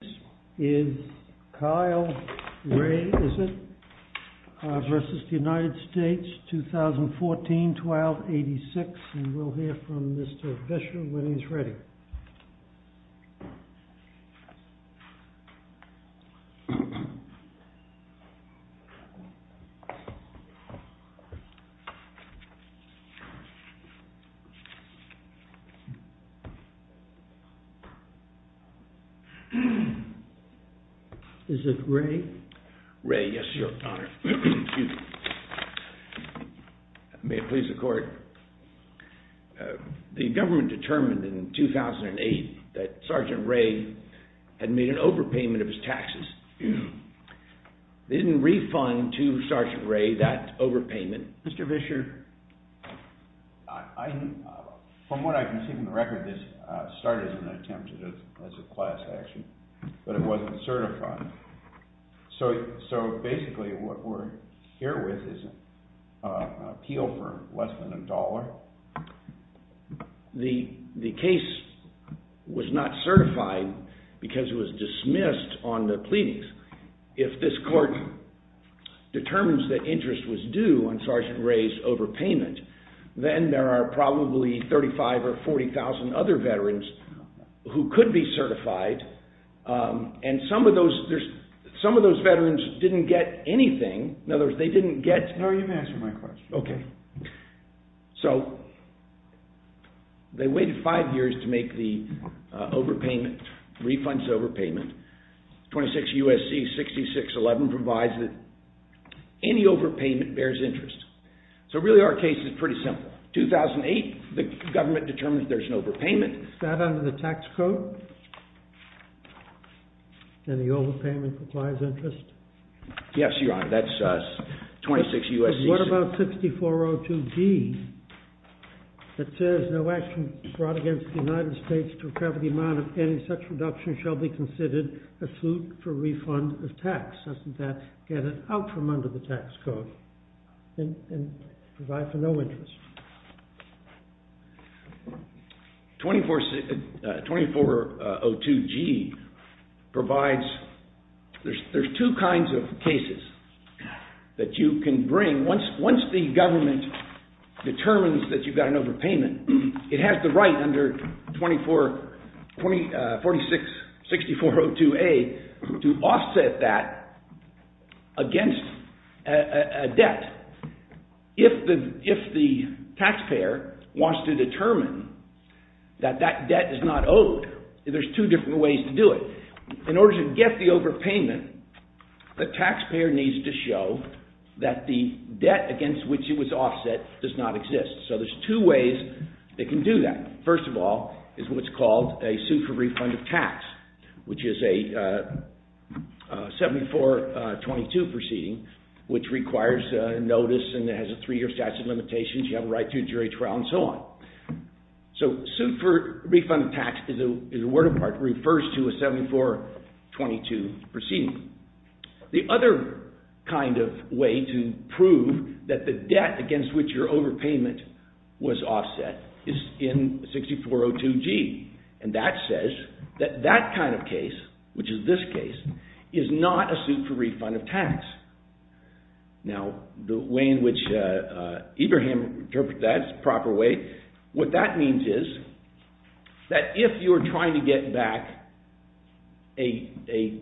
This is Kyle Ray Izzett v. United States, 2014-12-86, and we'll hear from Mr. Fisher when he's ready. Is it Ray? Ray, yes, your honor. May it please the court? The government determined in 2008 that Sergeant Ray had made an overpayment of his taxes. They didn't refund to Sergeant Ray that overpayment. Mr. Fisher? From what I can see from the record, this started as an attempt at a class action, but it wasn't certified. So basically what we're here with is an appeal for less than a dollar. The case was not certified because it was dismissed on the pleadings. If this court determines that interest was due on Sergeant Ray's overpayment, then there are probably 35 or 40,000 other veterans who could be certified, and some of those veterans didn't get anything. In other words, they didn't get... No, you've answered my question. Okay. So they waited five years to make the overpayment, refunds overpayment. 26 U.S.C. 6611 provides that any overpayment bears interest. So really our case is pretty simple. 2008, the government determined there's an overpayment. Is that under the tax code? Any overpayment requires interest? Yes, your honor. That's 26 U.S.C. What about 6402D that says no action brought against the United States to recover the amount of any such reduction shall be considered a suit for refund of tax? Doesn't that get it out from under the tax code and provide for no interest? 2402G provides... There's two kinds of cases that you can bring. Once the government determines that you've got an overpayment, it has the right under 6402A to offset that against a debt. If the taxpayer wants to determine that that debt is not owed, there's two different ways to do it. In order to get the overpayment, the taxpayer needs to show that the debt against which it was offset does not exist. So there's two ways they can do that. First of all is what's called a suit for refund of tax, which is a 7422 proceeding, which requires notice and has a three-year statute of limitations. You have a right to a jury trial and so on. So suit for refund of tax is a word apart. It refers to a 7422 proceeding. The other kind of way to prove that the debt against which your overpayment was offset is in 6402G, and that says that that kind of case, which is this case, is not a suit for refund of tax. Now, the way in which Ibrahim interprets that is the proper way. What that means is that if you're trying to get back an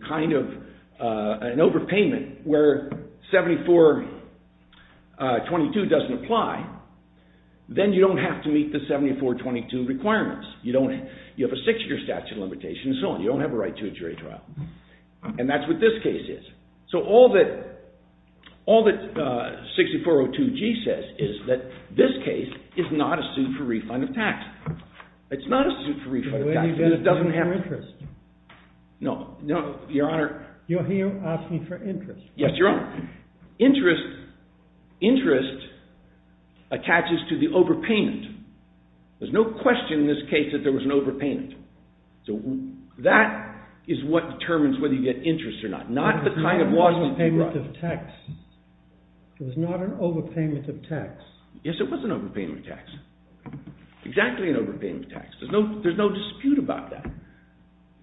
overpayment where 7422 doesn't apply, then you don't have to meet the 7422 requirements. You have a six-year statute of limitations and so on. You don't have a right to a jury trial. And that's what this case is. So all that 6402G says is that this case is not a suit for refund of tax. It's not a suit for refund of tax. It doesn't have interest. No, no, Your Honor. You're asking for interest. Yes, Your Honor. Interest attaches to the overpayment. There's no question in this case that there was an overpayment. So that is what determines whether you get interest or not. It was not an overpayment of tax. Yes, it was an overpayment of tax. Exactly an overpayment of tax. There's no dispute about that.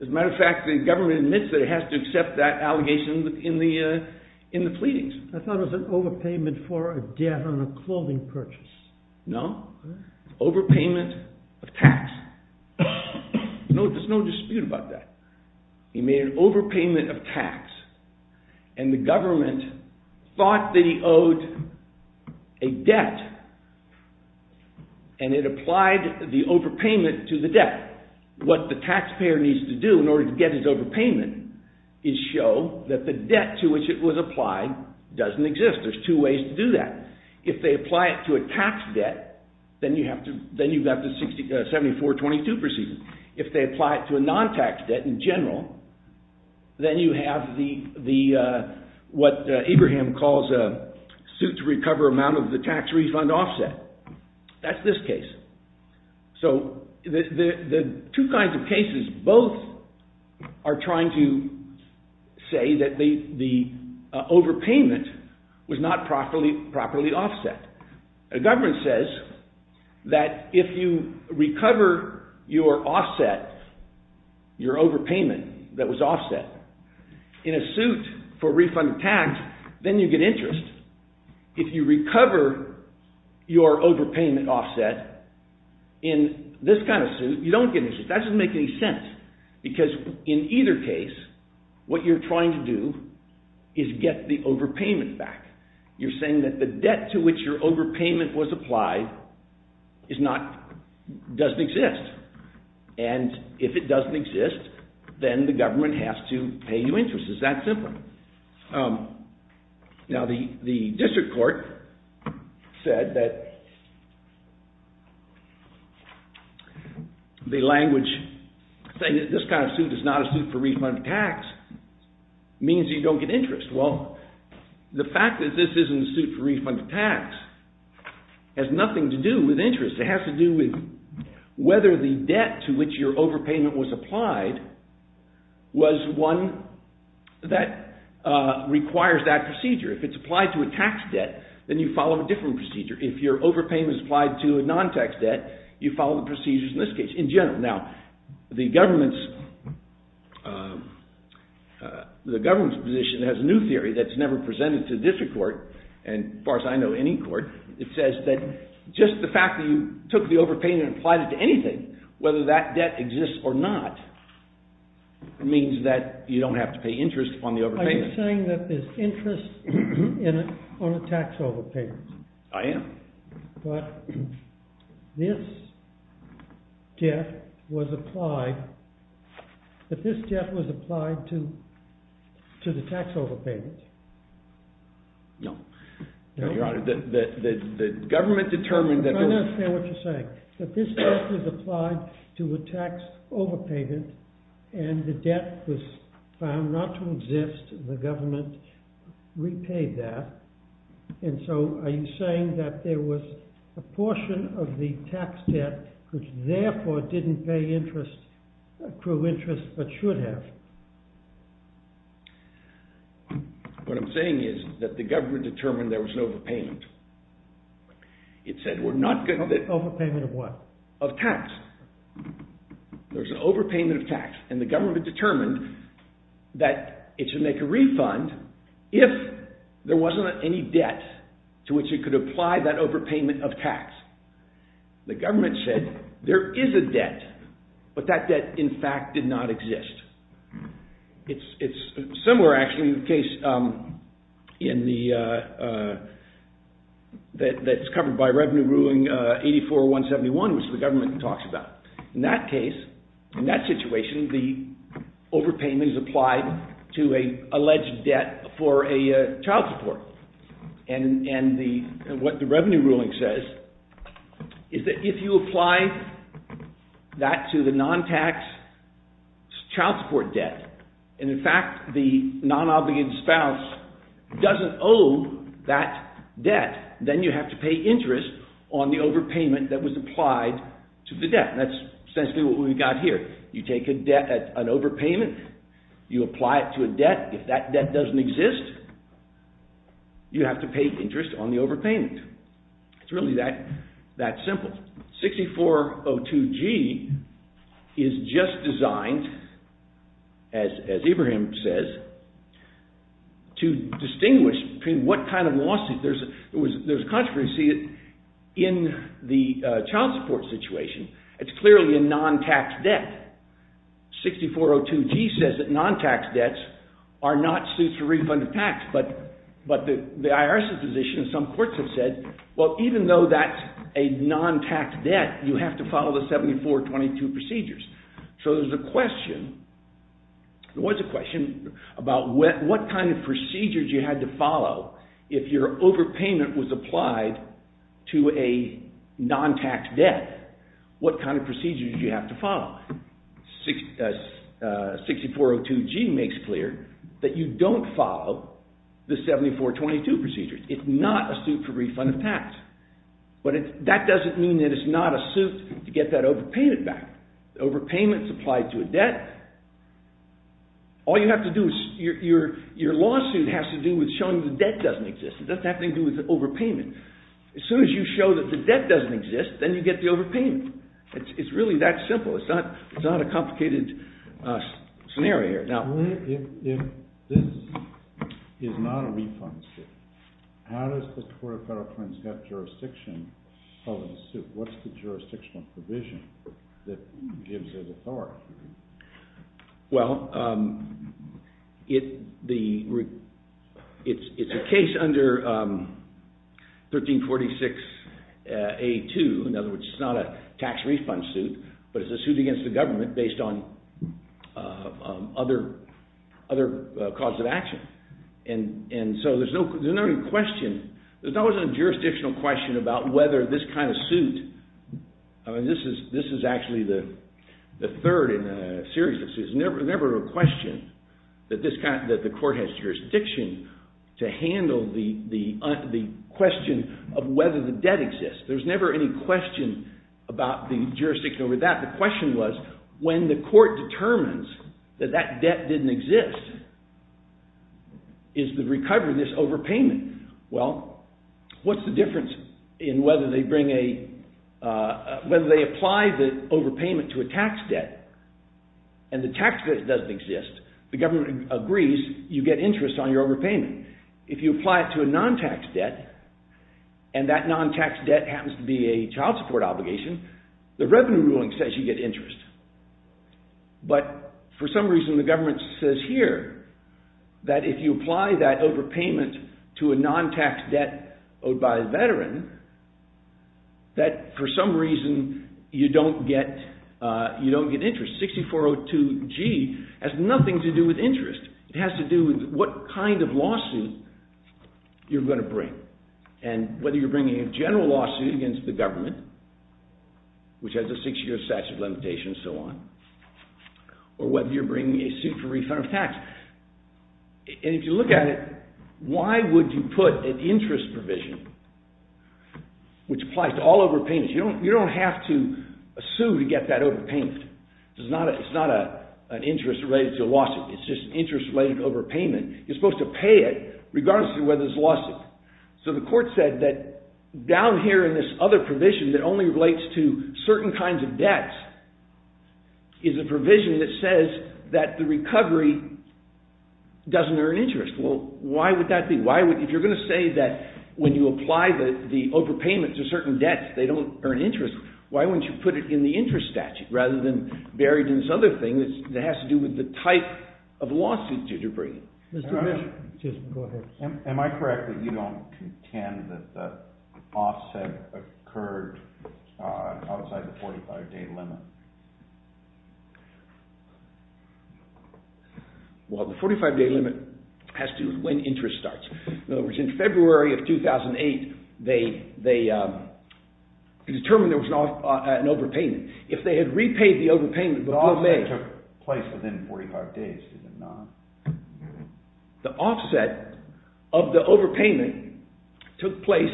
As a matter of fact, the government admits that it has to accept that allegation in the pleadings. I thought it was an overpayment for a debt on a clothing purchase. No. Overpayment of tax. There's no dispute about that. He made an overpayment of tax, and the government thought that he owed a debt, and it applied the overpayment to the debt. What the taxpayer needs to do in order to get his overpayment is show that the debt to which it was applied doesn't exist. There's two ways to do that. If they apply it to a tax debt, then you have to 7422 proceed. If they apply it to a non-tax debt in general, then you have what Abraham calls a suit-to-recover amount of the tax refund offset. That's this case. So the two kinds of cases both are trying to say that the overpayment was not properly offset. The government says that if you recover your offset, your overpayment that was offset, in a suit for refund of tax, then you get interest. If you recover your overpayment offset in this kind of suit, you don't get interest. That doesn't make any sense, because in either case, what you're trying to do is get the overpayment back. You're saying that the debt to which your overpayment was applied doesn't exist. And if it doesn't exist, then the government has to pay you interest. It's that simple. Now, the district court said that the language saying that this kind of suit is not a suit for refund of tax means you don't get interest. Well, the fact that this isn't a suit for refund of tax has nothing to do with interest. It has to do with whether the debt to which your overpayment was applied was one that requires that procedure. If it's applied to a tax debt, then you follow a different procedure. If your overpayment is applied to a non-tax debt, you follow the procedures in this case, in general. Now, the government's position has a new theory that's never presented to the district court, and as far as I know, any court. It says that just the fact that you took the overpayment and applied it to anything, whether that debt exists or not, means that you don't have to pay interest on the overpayment. Are you saying that there's interest in it on a tax overpayment? I am. But this debt was applied to the tax overpayment. No. The government determined that there was. I don't understand what you're saying. That this debt was applied to a tax overpayment, and the debt was found not to exist, and the government repaid that. And so, are you saying that there was a portion of the tax debt which, therefore, didn't pay interest, accrue interest, but should have? What I'm saying is that the government determined there was no overpayment. It said, we're not going to... Overpayment of what? Of tax. There's an overpayment of tax, and the government determined that it should make a refund if there wasn't any debt to which it could apply that overpayment of tax. The government said, there is a debt, but that debt, in fact, did not exist. It's similar, actually, to the case that's covered by Revenue Ruling 84-171, which the government talks about. In that case, in that situation, the overpayment is applied to an alleged debt for a child support. And what the Revenue Ruling says is that if you apply that to the non-tax child support debt, and in fact, the non-obligated spouse doesn't owe that debt, then you have to pay interest on the overpayment that was applied to the debt. That's essentially what we've got here. You take an overpayment, you apply it to a debt. If that debt doesn't exist, you have to pay interest on the overpayment. It's really that simple. 6402G is just designed, as Abraham says, to distinguish between what kind of lawsuit. There's a controversy in the child support situation. It's clearly a non-tax debt. 6402G says that non-tax debts are not suits for refund of tax. But the IRS's position, some courts have said, well, even though that's a non-tax debt, you have to follow the 7422 procedures. So there was a question about what kind of procedures you had to follow if your overpayment was what kind of procedures you have to follow. 6402G makes clear that you don't follow the 7422 procedures. It's not a suit for refund of tax. But that doesn't mean that it's not a suit to get that overpayment back. Overpayment's applied to a debt. All you have to do is, your lawsuit has to do with showing the debt doesn't exist. It doesn't have anything to do with overpayment. As soon as you show that the debt doesn't exist, then you get the overpayment. It's really that simple. It's not a complicated scenario here. Now, if this is not a refund suit, how does the Court of Federal Crimes get jurisdiction of the suit? What's the jurisdictional provision that gives it authority? Well, it's a case under 1346A2. In other words, it's not a tax refund suit. But it's a suit against the government based on other cause of action. And so there's no question. There's always a jurisdictional question about whether this kind of suit. This is actually the third in a series of suits. There's never a question that the court has jurisdiction to handle the question of whether the debt exists. There's never any question about the jurisdiction over that. The question was, when the court determines that that debt didn't exist, is the recovery this overpayment? Well, what's the difference in whether they apply the overpayment to a tax debt and the tax debt doesn't exist, the government agrees you get interest on your overpayment. If you apply it to a non-tax debt, and that non-tax debt happens to be a child support obligation, the revenue ruling says you get interest. But for some reason, the government says here that if you apply that overpayment to a non-tax debt owed by a veteran, that for some reason, you don't get interest. 6402G has nothing to do with interest. It has to do with what kind of lawsuit you're going to bring. And whether you're bringing a general lawsuit against the government, which has a six-year statute limitation and so on, or whether you're bringing a suit for refund of tax. And if you look at it, why would you put an interest provision, which applies to all overpayments? You don't have to sue to get that overpayment. It's not an interest-related lawsuit. It's just interest-related overpayment. You're supposed to pay it, regardless of whether it's a lawsuit. So the court said that down here in this other provision that only relates to certain kinds of debts is a provision that says that the recovery doesn't earn interest. Well, why would that be? If you're going to say that when you apply the overpayment to certain debts, they don't earn interest, why wouldn't you put it in the interest statute rather than buried in this other thing that has to do with the type of lawsuit that you're bringing? Am I correct that you don't contend that the offset occurred outside the 45-day limit? Well, the 45-day limit has to do with when interest starts. In other words, in February of 2008, they determined there was an overpayment. If they had repaid the overpayment before May. The offset took place within 45 days, did it not? The offset of the overpayment took place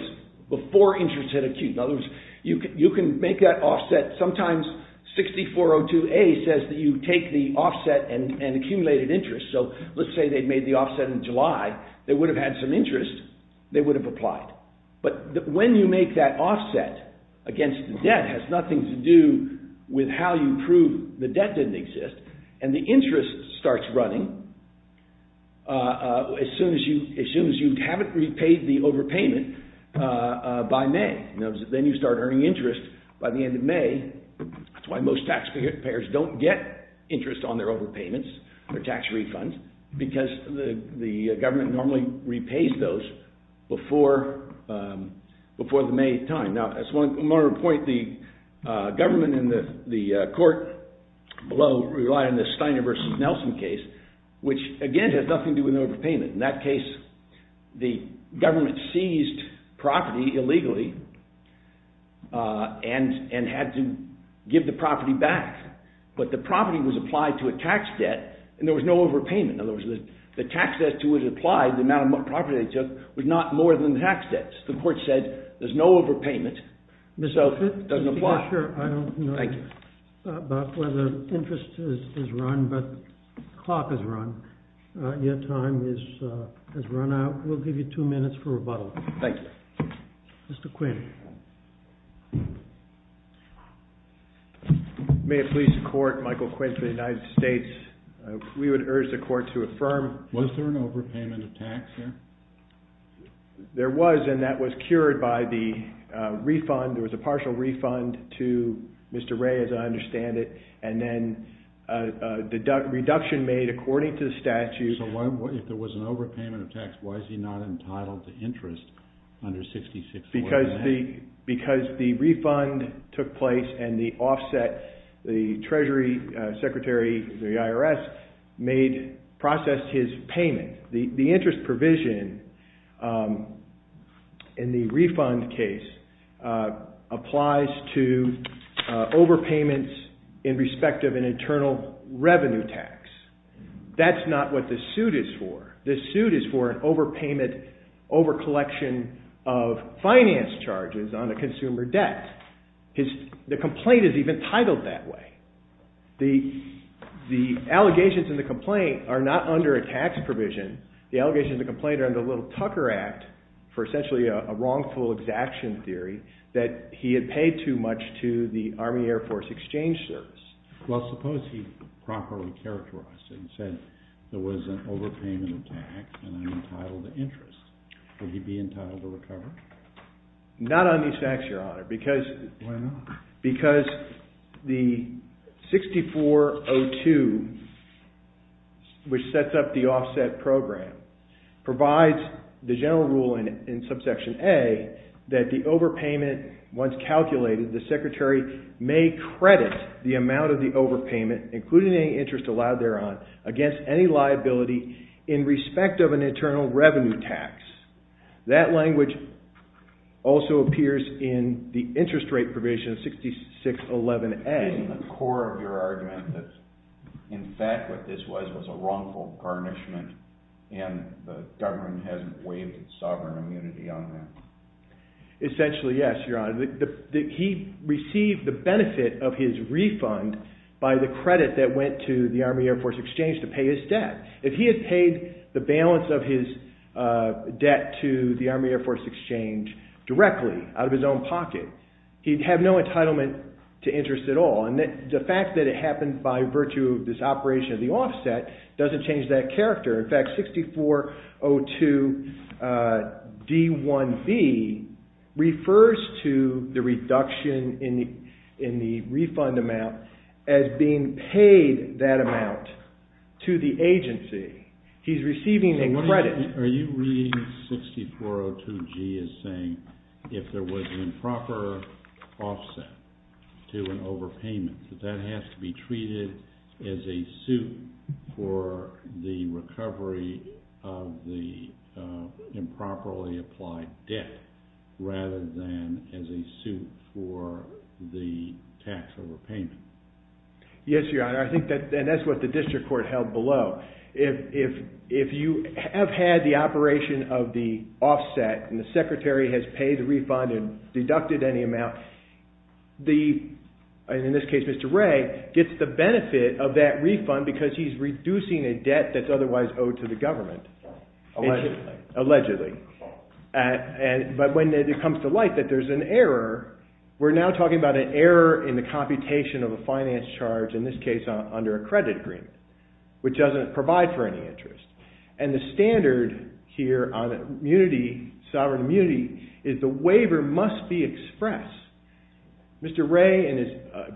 before interest hit acute. In other words, you can make that offset. Sometimes 6402A says that you take the offset and accumulated interest. So let's say they made the offset in July. They would have had some interest. They would have applied. But when you make that offset against the debt, it has nothing to do with how you prove the debt didn't exist. And the interest starts running as soon as you haven't repaid the overpayment by May. Then you start earning interest by the end of May. That's why most taxpayers don't get interest on their overpayments or tax refunds, because the government normally repays those before the May time. Now, as one more point, the government and the court below rely on the Steiner versus Nelson case, which, again, has nothing to do with overpayment. In that case, the government seized property illegally and had to give the property back. But the property was applied to a tax debt, and there was no overpayment. In other words, the tax debt to which it applied, the amount of property they took, was not more than the tax debt. The court said there's no overpayment, so it doesn't apply. Your Honor, I don't know about whether interest has run, but the clock has run. Your time has run out. We'll give you two minutes for rebuttal. Thank you. Mr. Quinn. May it please the court, Michael Quinn for the United States. We would urge the court to affirm. Was there an overpayment of tax there? There was, and that was cured by the refund. There was a partial refund to Mr. Ray, as I understand it, and then a reduction made according to the statute. So if there was an overpayment of tax, why is he not entitled to interest under 66-4? Because the refund took place and the offset, the Treasury Secretary of the IRS processed his payment. The interest provision in the refund case applies to overpayments in respect of an internal revenue tax. That's not what the suit is for. The suit is for an overpayment, overcollection of finance charges on a consumer debt. The complaint is even titled that way. The allegations in the complaint are not under a tax provision. The allegations in the complaint are under Little-Tucker Act for essentially a wrongful exaction theory that he had paid too much to the Army Air Force Exchange Service. Well, suppose he properly characterized it and said there was an overpayment of tax and I'm entitled to interest. Would he be entitled to recover? Not on these facts, Your Honor. Why not? Because the 6402, which sets up the offset program, provides the general rule in Subsection A that the overpayment, once calculated, the Secretary may credit the amount of the overpayment, including any interest allowed thereon, against any liability in respect of an internal revenue tax. That language also appears in the interest rate provision 6611A. Isn't the core of your argument that in fact what this was was a wrongful garnishment and the government hasn't waived its sovereign immunity on that? Essentially, yes, Your Honor. He received the benefit of his refund by the credit that went to the Army Air Force Exchange to pay his debt. If he had paid the balance of his debt to the Army Air Force Exchange directly, out of his own pocket, he'd have no entitlement to interest at all. The fact that it happened by virtue of this operation of the offset doesn't change that character. In fact, 6402D1B refers to the reduction in the refund amount as being paid that amount to the agency. He's receiving a credit. Are you reading 6402G as saying if there was an improper offset to an overpayment that that has to be treated as a suit for the recovery of the improperly applied debt rather than as a suit for the tax overpayment? Yes, Your Honor. I think that's what the district court held below. If you have had the operation of the offset and the secretary has paid the refund and deducted any amount, in this case, Mr. Ray gets the benefit of that refund because he's reducing a debt that's otherwise owed to the government. Allegedly. Allegedly. But when it comes to light that there's an error, we're now talking about an error in the computation of a finance charge, in this case, under a credit agreement, which doesn't provide for any interest. And the standard here on sovereign immunity is the waiver must be expressed. Mr. Ray, in his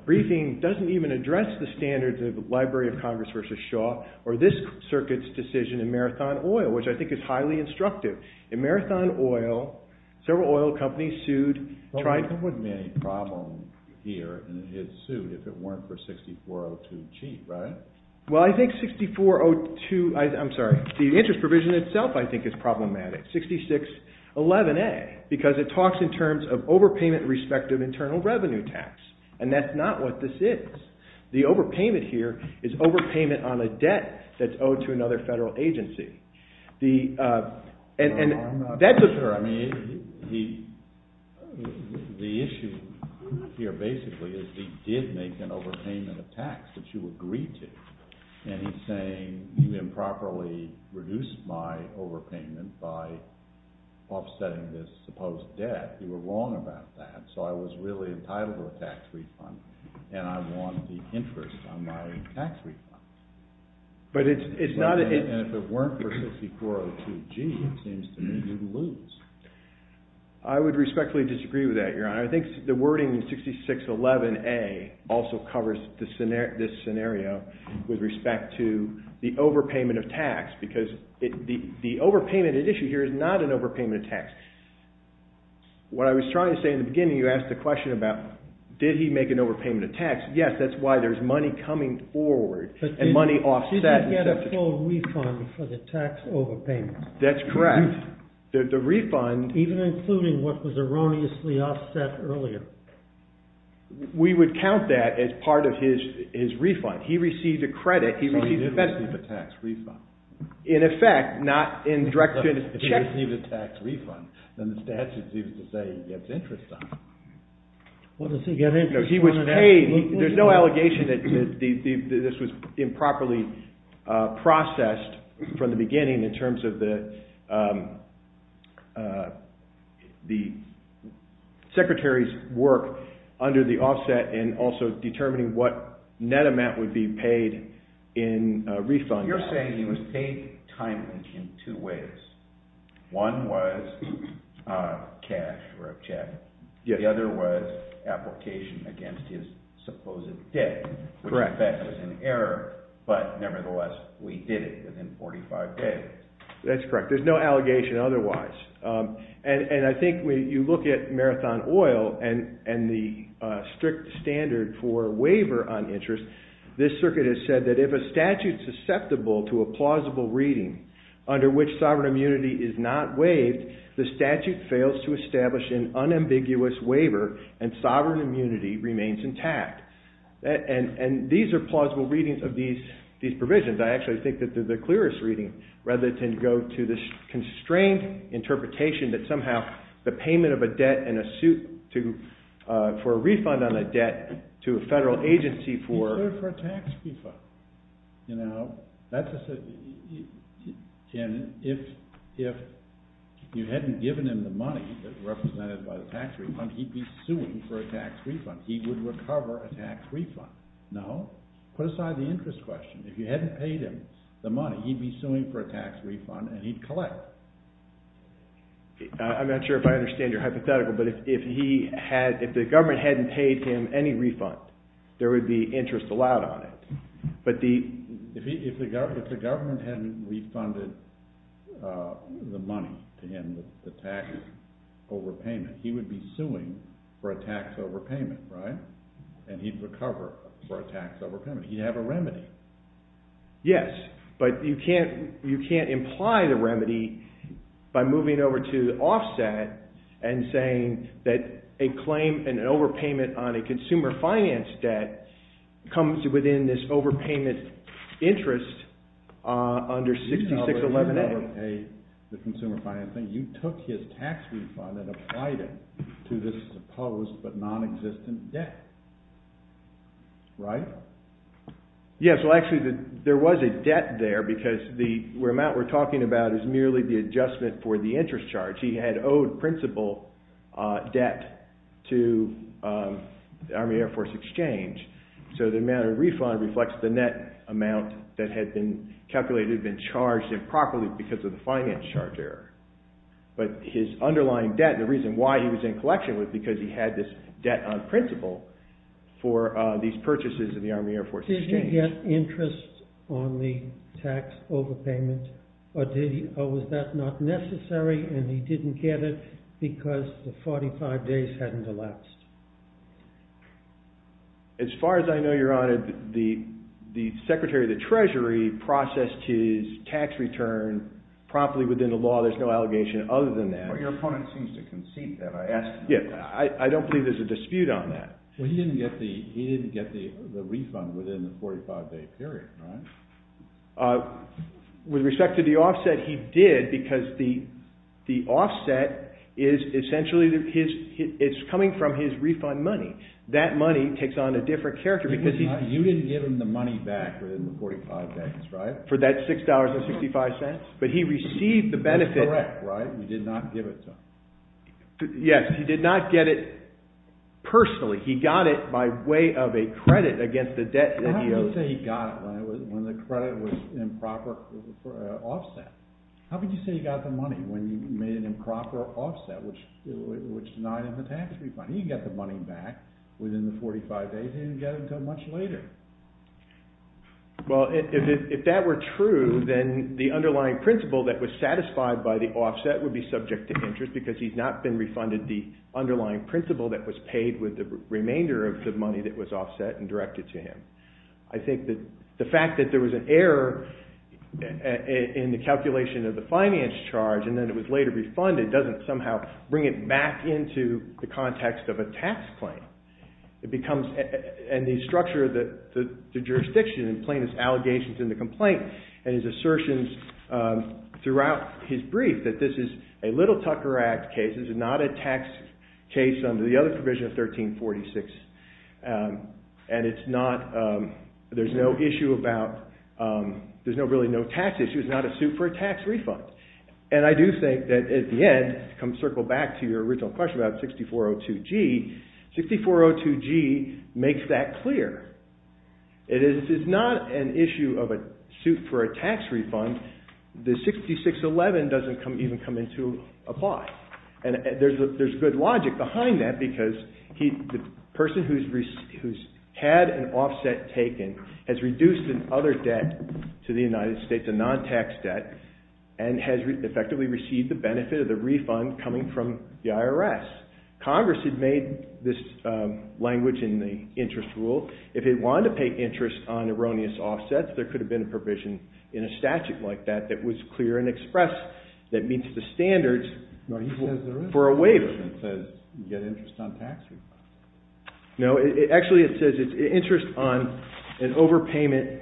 briefing, doesn't even address the standards of the Library of Congress v. Shaw or this circuit's decision in Marathon Oil, which I think is highly instructive. In Marathon Oil, several oil companies sued. There wouldn't be any problem here in his suit if it weren't for 6402G, right? Well, I think 6402, I'm sorry, the interest provision itself I think is problematic. 6611A, because it talks in terms of overpayment respective internal revenue tax. And that's not what this is. The overpayment here is overpayment on a debt that's owed to another federal agency. And that's a... I mean, the issue here basically is he did make an overpayment of tax that you agreed to. And he's saying you improperly reduced my overpayment by offsetting this supposed debt. You were wrong about that. So I was really entitled to a tax refund and I want the interest on my tax refund. But it's not... And if it weren't for 6402G, it seems to me you'd lose. I would respectfully disagree with that, Your Honor. I think the wording 6611A also covers this scenario with respect to the overpayment of tax because the overpayment at issue here is not an overpayment of tax. What I was trying to say in the beginning, you asked the question about, did he make an overpayment of tax? Yes, that's why there's money coming forward and money offset. He didn't get a full refund for the tax overpayments. That's correct. The refund... Even including what was erroneously offset earlier. We would count that as part of his refund. He received a credit, he received a benefit. So he didn't receive a tax refund. In effect, not in direction... If he didn't receive a tax refund, then the statute seems to say he gets interest on it. What does he get interest on? There's no allegation that this was improperly processed from the beginning in terms of the secretary's work under the offset and also determining what net amount would be paid in refund. You're saying he was paid timely in two ways. One was cash or a check. The other was application against his supposed debt, which in fact was an error, but nevertheless we did it within 45 days. That's correct. There's no allegation otherwise. I think when you look at Marathon Oil and the strict standard for waiver on interest, this circuit has said that if a statute susceptible to a plausible reading under which sovereign immunity is not waived, the statute fails to establish an unambiguous waiver and sovereign immunity remains intact. And these are plausible readings of these provisions. I actually think that they're the clearest reading rather than go to this constrained interpretation that somehow the payment of a debt and a suit for a refund on a debt to a federal agency for... He paid for a tax refund. And if you hadn't given him the money that's represented by the tax refund, he'd be suing for a tax refund. He would recover a tax refund. No? Put aside the interest question. If you hadn't paid him the money, he'd be suing for a tax refund and he'd collect. I'm not sure if I understand your hypothetical, but if the government hadn't paid him any refund, there would be interest allowed on it. But the... If the government hadn't refunded the money to him, the tax overpayment, he would be suing for a tax overpayment, right? And he'd recover for a tax overpayment. He'd have a remedy. Yes, but you can't imply the remedy by moving over to offset and saying that a claim and an overpayment on a consumer finance debt comes within this overpayment interest under 6611A. You took his tax refund and applied it to this supposed but non-existent debt. Right? Yes, well actually there was a debt there because the amount we're talking about is merely the adjustment for the interest charge. He had owed principal debt to the Army Air Force Exchange. So the amount of refund reflects the net amount that had been calculated, had been charged improperly because of the finance charge error. But his underlying debt, the reason why he was in collection was because he had this debt on principal for these purchases in the Army Air Force Exchange. Did he get interest on the tax overpayment or was that not necessary and he didn't get it because the 45 days hadn't elapsed? As far as I know, Your Honor, the Secretary of the Treasury processed his tax return properly within the law. There's no allegation other than that. Your opponent seems to concede that. I don't believe there's a dispute on that. He didn't get the refund within the 45-day period, right? With respect to the offset, he did because the offset is essentially coming from his refund money. That money takes on a different character. You didn't give him the money back within the 45 days, right? For that $6.65? But he received the benefit. That's correct, right? You did not give it to him. Yes, he did not get it personally. He got it by way of a credit against the debt that he owed. How can you say he got it when the credit was an improper offset? How can you say he got the money when you made an improper offset, which denied him the tax refund? He didn't get the money back within the 45 days. He didn't get it until much later. Well, if that were true, then the underlying principle that was satisfied by the offset would be subject to interest because he's not been refunded the underlying principle that was paid with the remainder of the money that was offset and directed to him. I think that the fact that there was an error in the calculation of the finance charge and then it was later refunded doesn't somehow bring it back into the context of a tax claim. It becomes... and the structure of the jurisdiction in plaintiff's allegations in the complaint and his assertions throughout his brief that this is a Little Tucker Act case. This is not a tax case under the other provision of 1346. And it's not... there's no issue about... there's really no tax issue. It's not a suit for a tax refund. And I do think that at the end, come circle back to your original question about 6402G. 6402G makes that clear. It is not an issue of a suit for a tax refund. The 6611 doesn't even come into apply. And there's good logic behind that because the person who's had an offset taken has reduced another debt to the United States, a non-tax debt, and has effectively received the benefit of the refund coming from the IRS. Congress had made this language in the interest rule. If it wanted to pay interest on erroneous offsets, there could have been a provision in a statute like that that was clear and expressed that meets the standards for a waiver. It says you get interest on tax refund. No, actually it says it's interest on overpayment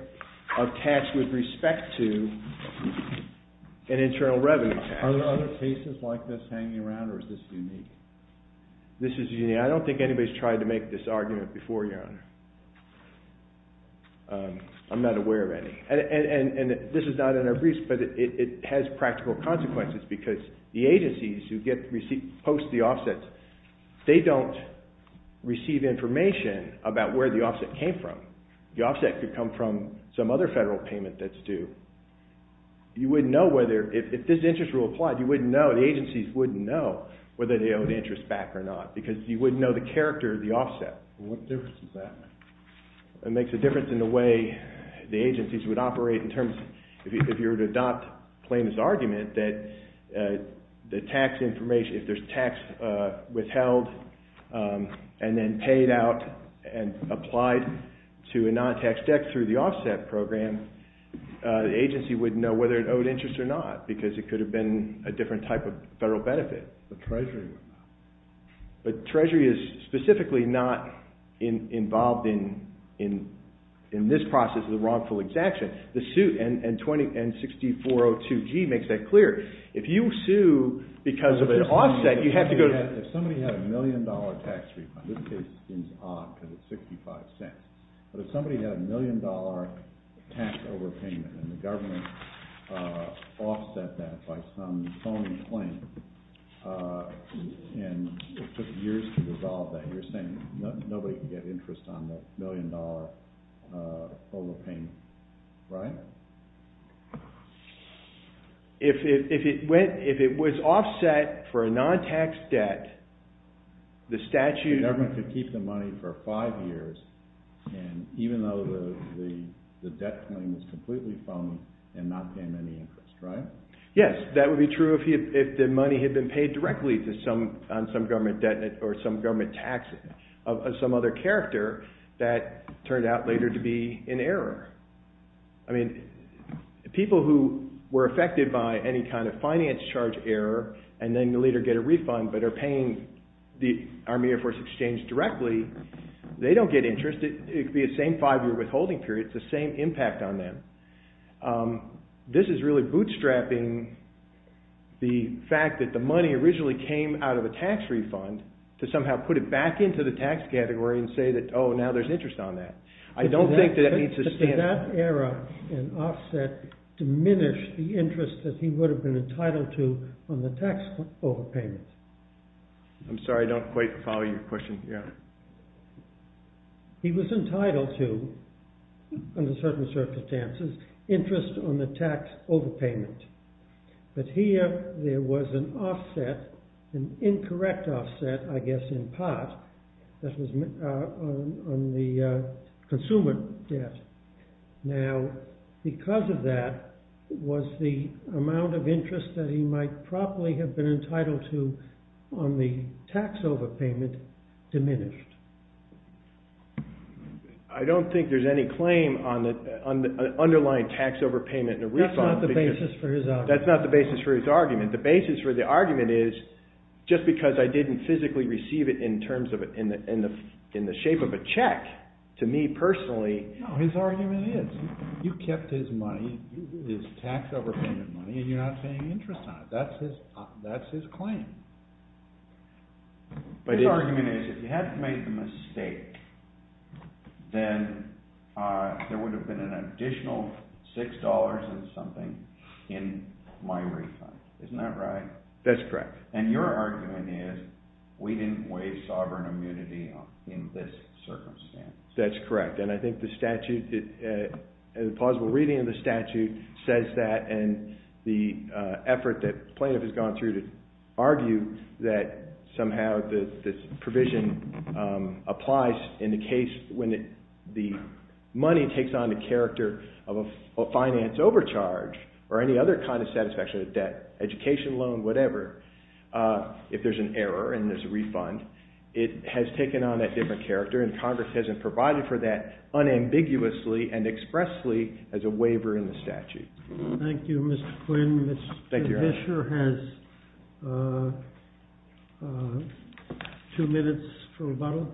of tax with respect to an internal revenue tax. Are there other cases like this hanging around or is this unique? This is unique. I don't think anybody's tried to make this argument before, Your Honor. I'm not aware of any. And this is not in our briefs, but it has practical consequences because the agencies who post the offsets, they don't receive information about where the offset came from. The offset could come from some other federal payment that's due. You wouldn't know whether, if this interest rule applied, you wouldn't know, the agencies wouldn't know whether they owed interest back or not because you wouldn't know the character of the offset. What difference does that make? It makes a difference in the way the agencies would operate in terms of, if you were to adopt Clayton's argument, that the tax information, if there's tax withheld and then paid out and applied, to a non-tax debt through the offset program, the agency wouldn't know whether it owed interest or not because it could have been a different type of federal benefit. The Treasury would know. The Treasury is specifically not involved in this process of the wrongful exaction. The suit, and 6402G makes that clear. If you sue because of an offset, you have to go to... If somebody had a million dollar tax refund, this case seems odd because it's 65 cents, but if somebody had a million dollar tax overpayment and the government offset that by some phony claim and it took years to resolve that, you're saying nobody can get interest on that million dollar overpayment, right? If it was offset for a non-tax debt, the statute... The government could keep the money for five years and even though the debt claim is completely phony and not paying any interest, right? Yes, that would be true if the money had been paid directly on some government debt or some government tax, of some other character that turned out later to be in error. I mean, people who were affected by any kind of finance charge error and then later get a refund but are paying the Army Air Force Exchange directly, they don't get interest. It could be the same five-year withholding period. It's the same impact on them. This is really bootstrapping the fact that the money originally came out of a tax refund to somehow put it back into the tax category and say that, oh, now there's interest on that. I don't think that needs to stand... But did that error in offset diminish the interest that he would have been entitled to on the tax overpayment? I'm sorry, I don't quite follow your question. Yeah. He was entitled to, under certain circumstances, interest on the tax overpayment. But here, there was an offset, an incorrect offset, I guess in part, that was on the consumer debt. Now, because of that, was the amount of interest that he might probably have been entitled to on the tax overpayment diminished? I don't think there's any claim on the underlying tax overpayment and a refund. That's not the basis for his argument. That's not the basis for his argument. The basis for the argument is just because I didn't physically receive it in the shape of a check, to me personally... No, his argument is. You kept his money, his tax overpayment money, and you're not paying interest on it. That's his claim. His argument is, if he hadn't made the mistake, then there would have been an additional $6 and something in my refund. Isn't that right? That's correct. And your argument is, we didn't waive sovereign immunity in this circumstance. That's correct. And I think the statute, a plausible reading of the statute, says that, and the effort that plaintiff has gone through to argue that somehow this provision applies in the case when the money takes on the character of a finance overcharge or any other kind of satisfaction, a debt, education loan, whatever, if there's an error and there's a refund, it has taken on that different character and Congress hasn't provided for that unambiguously and expressly as a waiver in the statute. Thank you, Mr. Quinn. Mr. Fisher has two minutes for rebuttal.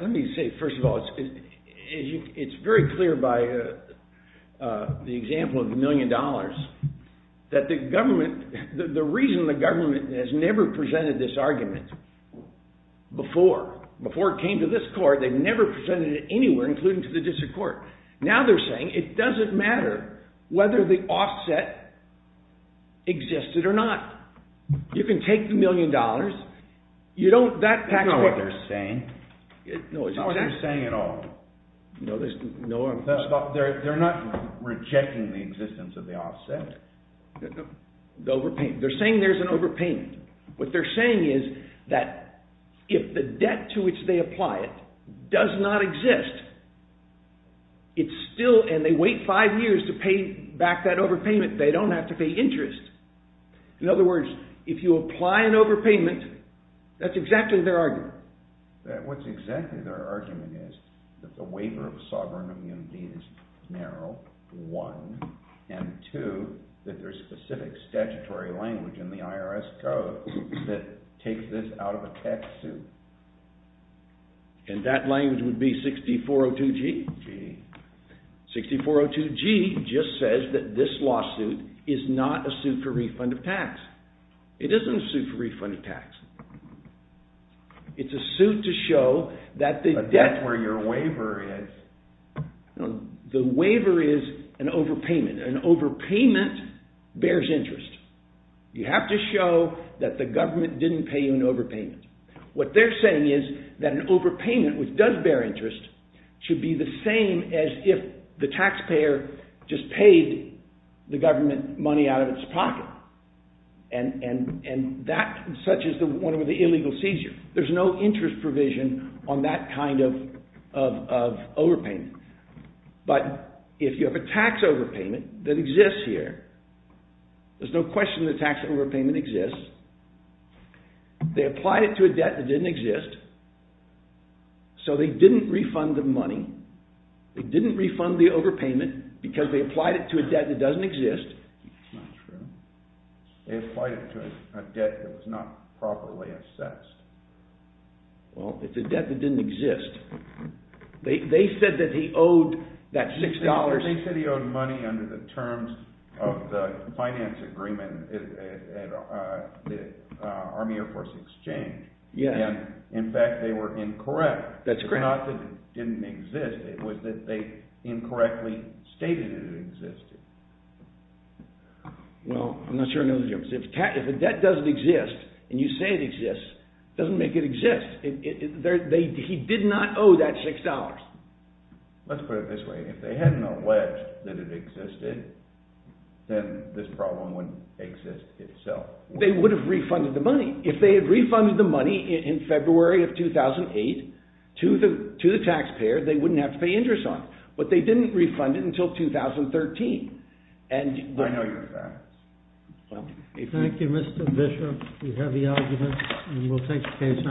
Let me say, first of all, it's very clear by the example of the million dollars that the government, the reason the government has never presented this argument before, before it came to this court, they've never presented it anywhere including to the district court. Now they're saying it doesn't matter whether the offset existed or not. You can take the million dollars, you don't, that's what they're saying. It's not what they're saying at all. They're not rejecting the existence of the offset. They're saying there's an overpayment. What they're saying is that if the debt to which they apply it does not exist, it's still, and they wait five years to pay back that overpayment, they don't have to pay interest. In other words, if you apply an overpayment, that's exactly their argument. What's exactly their argument is that the waiver of sovereign immunity is narrow, one, and two, that there's specific statutory language in the IRS code that takes this out of a tax suit. And that language would be 6402G. 6402G just says that this lawsuit is not a suit for refund of tax. It isn't a suit for refund of tax. It's a suit to show that the debt... A debt where your waiver is. The waiver is an overpayment. An overpayment bears interest. You have to show that the government didn't pay you an overpayment. What they're saying is that an overpayment which does bear interest should be the same as if the taxpayer just paid the government money out of its pocket. And that, such as the one with the illegal seizure. There's no interest provision on that kind of overpayment. But if you have a tax overpayment that exists here, there's no question the tax overpayment exists. They applied it to a debt that didn't exist. So they didn't refund the money. They didn't refund the overpayment because they applied it to a debt that doesn't exist. It's not true. They applied it to a debt that was not properly assessed. Well, it's a debt that didn't exist. They said that he owed that $6... They said he owed money under the terms of the finance agreement at the Army Air Force Exchange. And, in fact, they were incorrect. It's not that it didn't exist. It was that they incorrectly stated it existed. Well, I'm not sure I know the difference. If a debt doesn't exist, and you say it exists, it doesn't make it exist. He did not owe that $6. Let's put it this way. If they hadn't alleged that it existed, then this problem wouldn't exist itself. They would have refunded the money. If they had refunded the money in February of 2008 to the taxpayer, they wouldn't have to pay interest on it. But they didn't refund it until 2013. I know your facts. Thank you, Mr. Bishop. We have the arguments, and we'll take the case under review. Thank you. Thank you.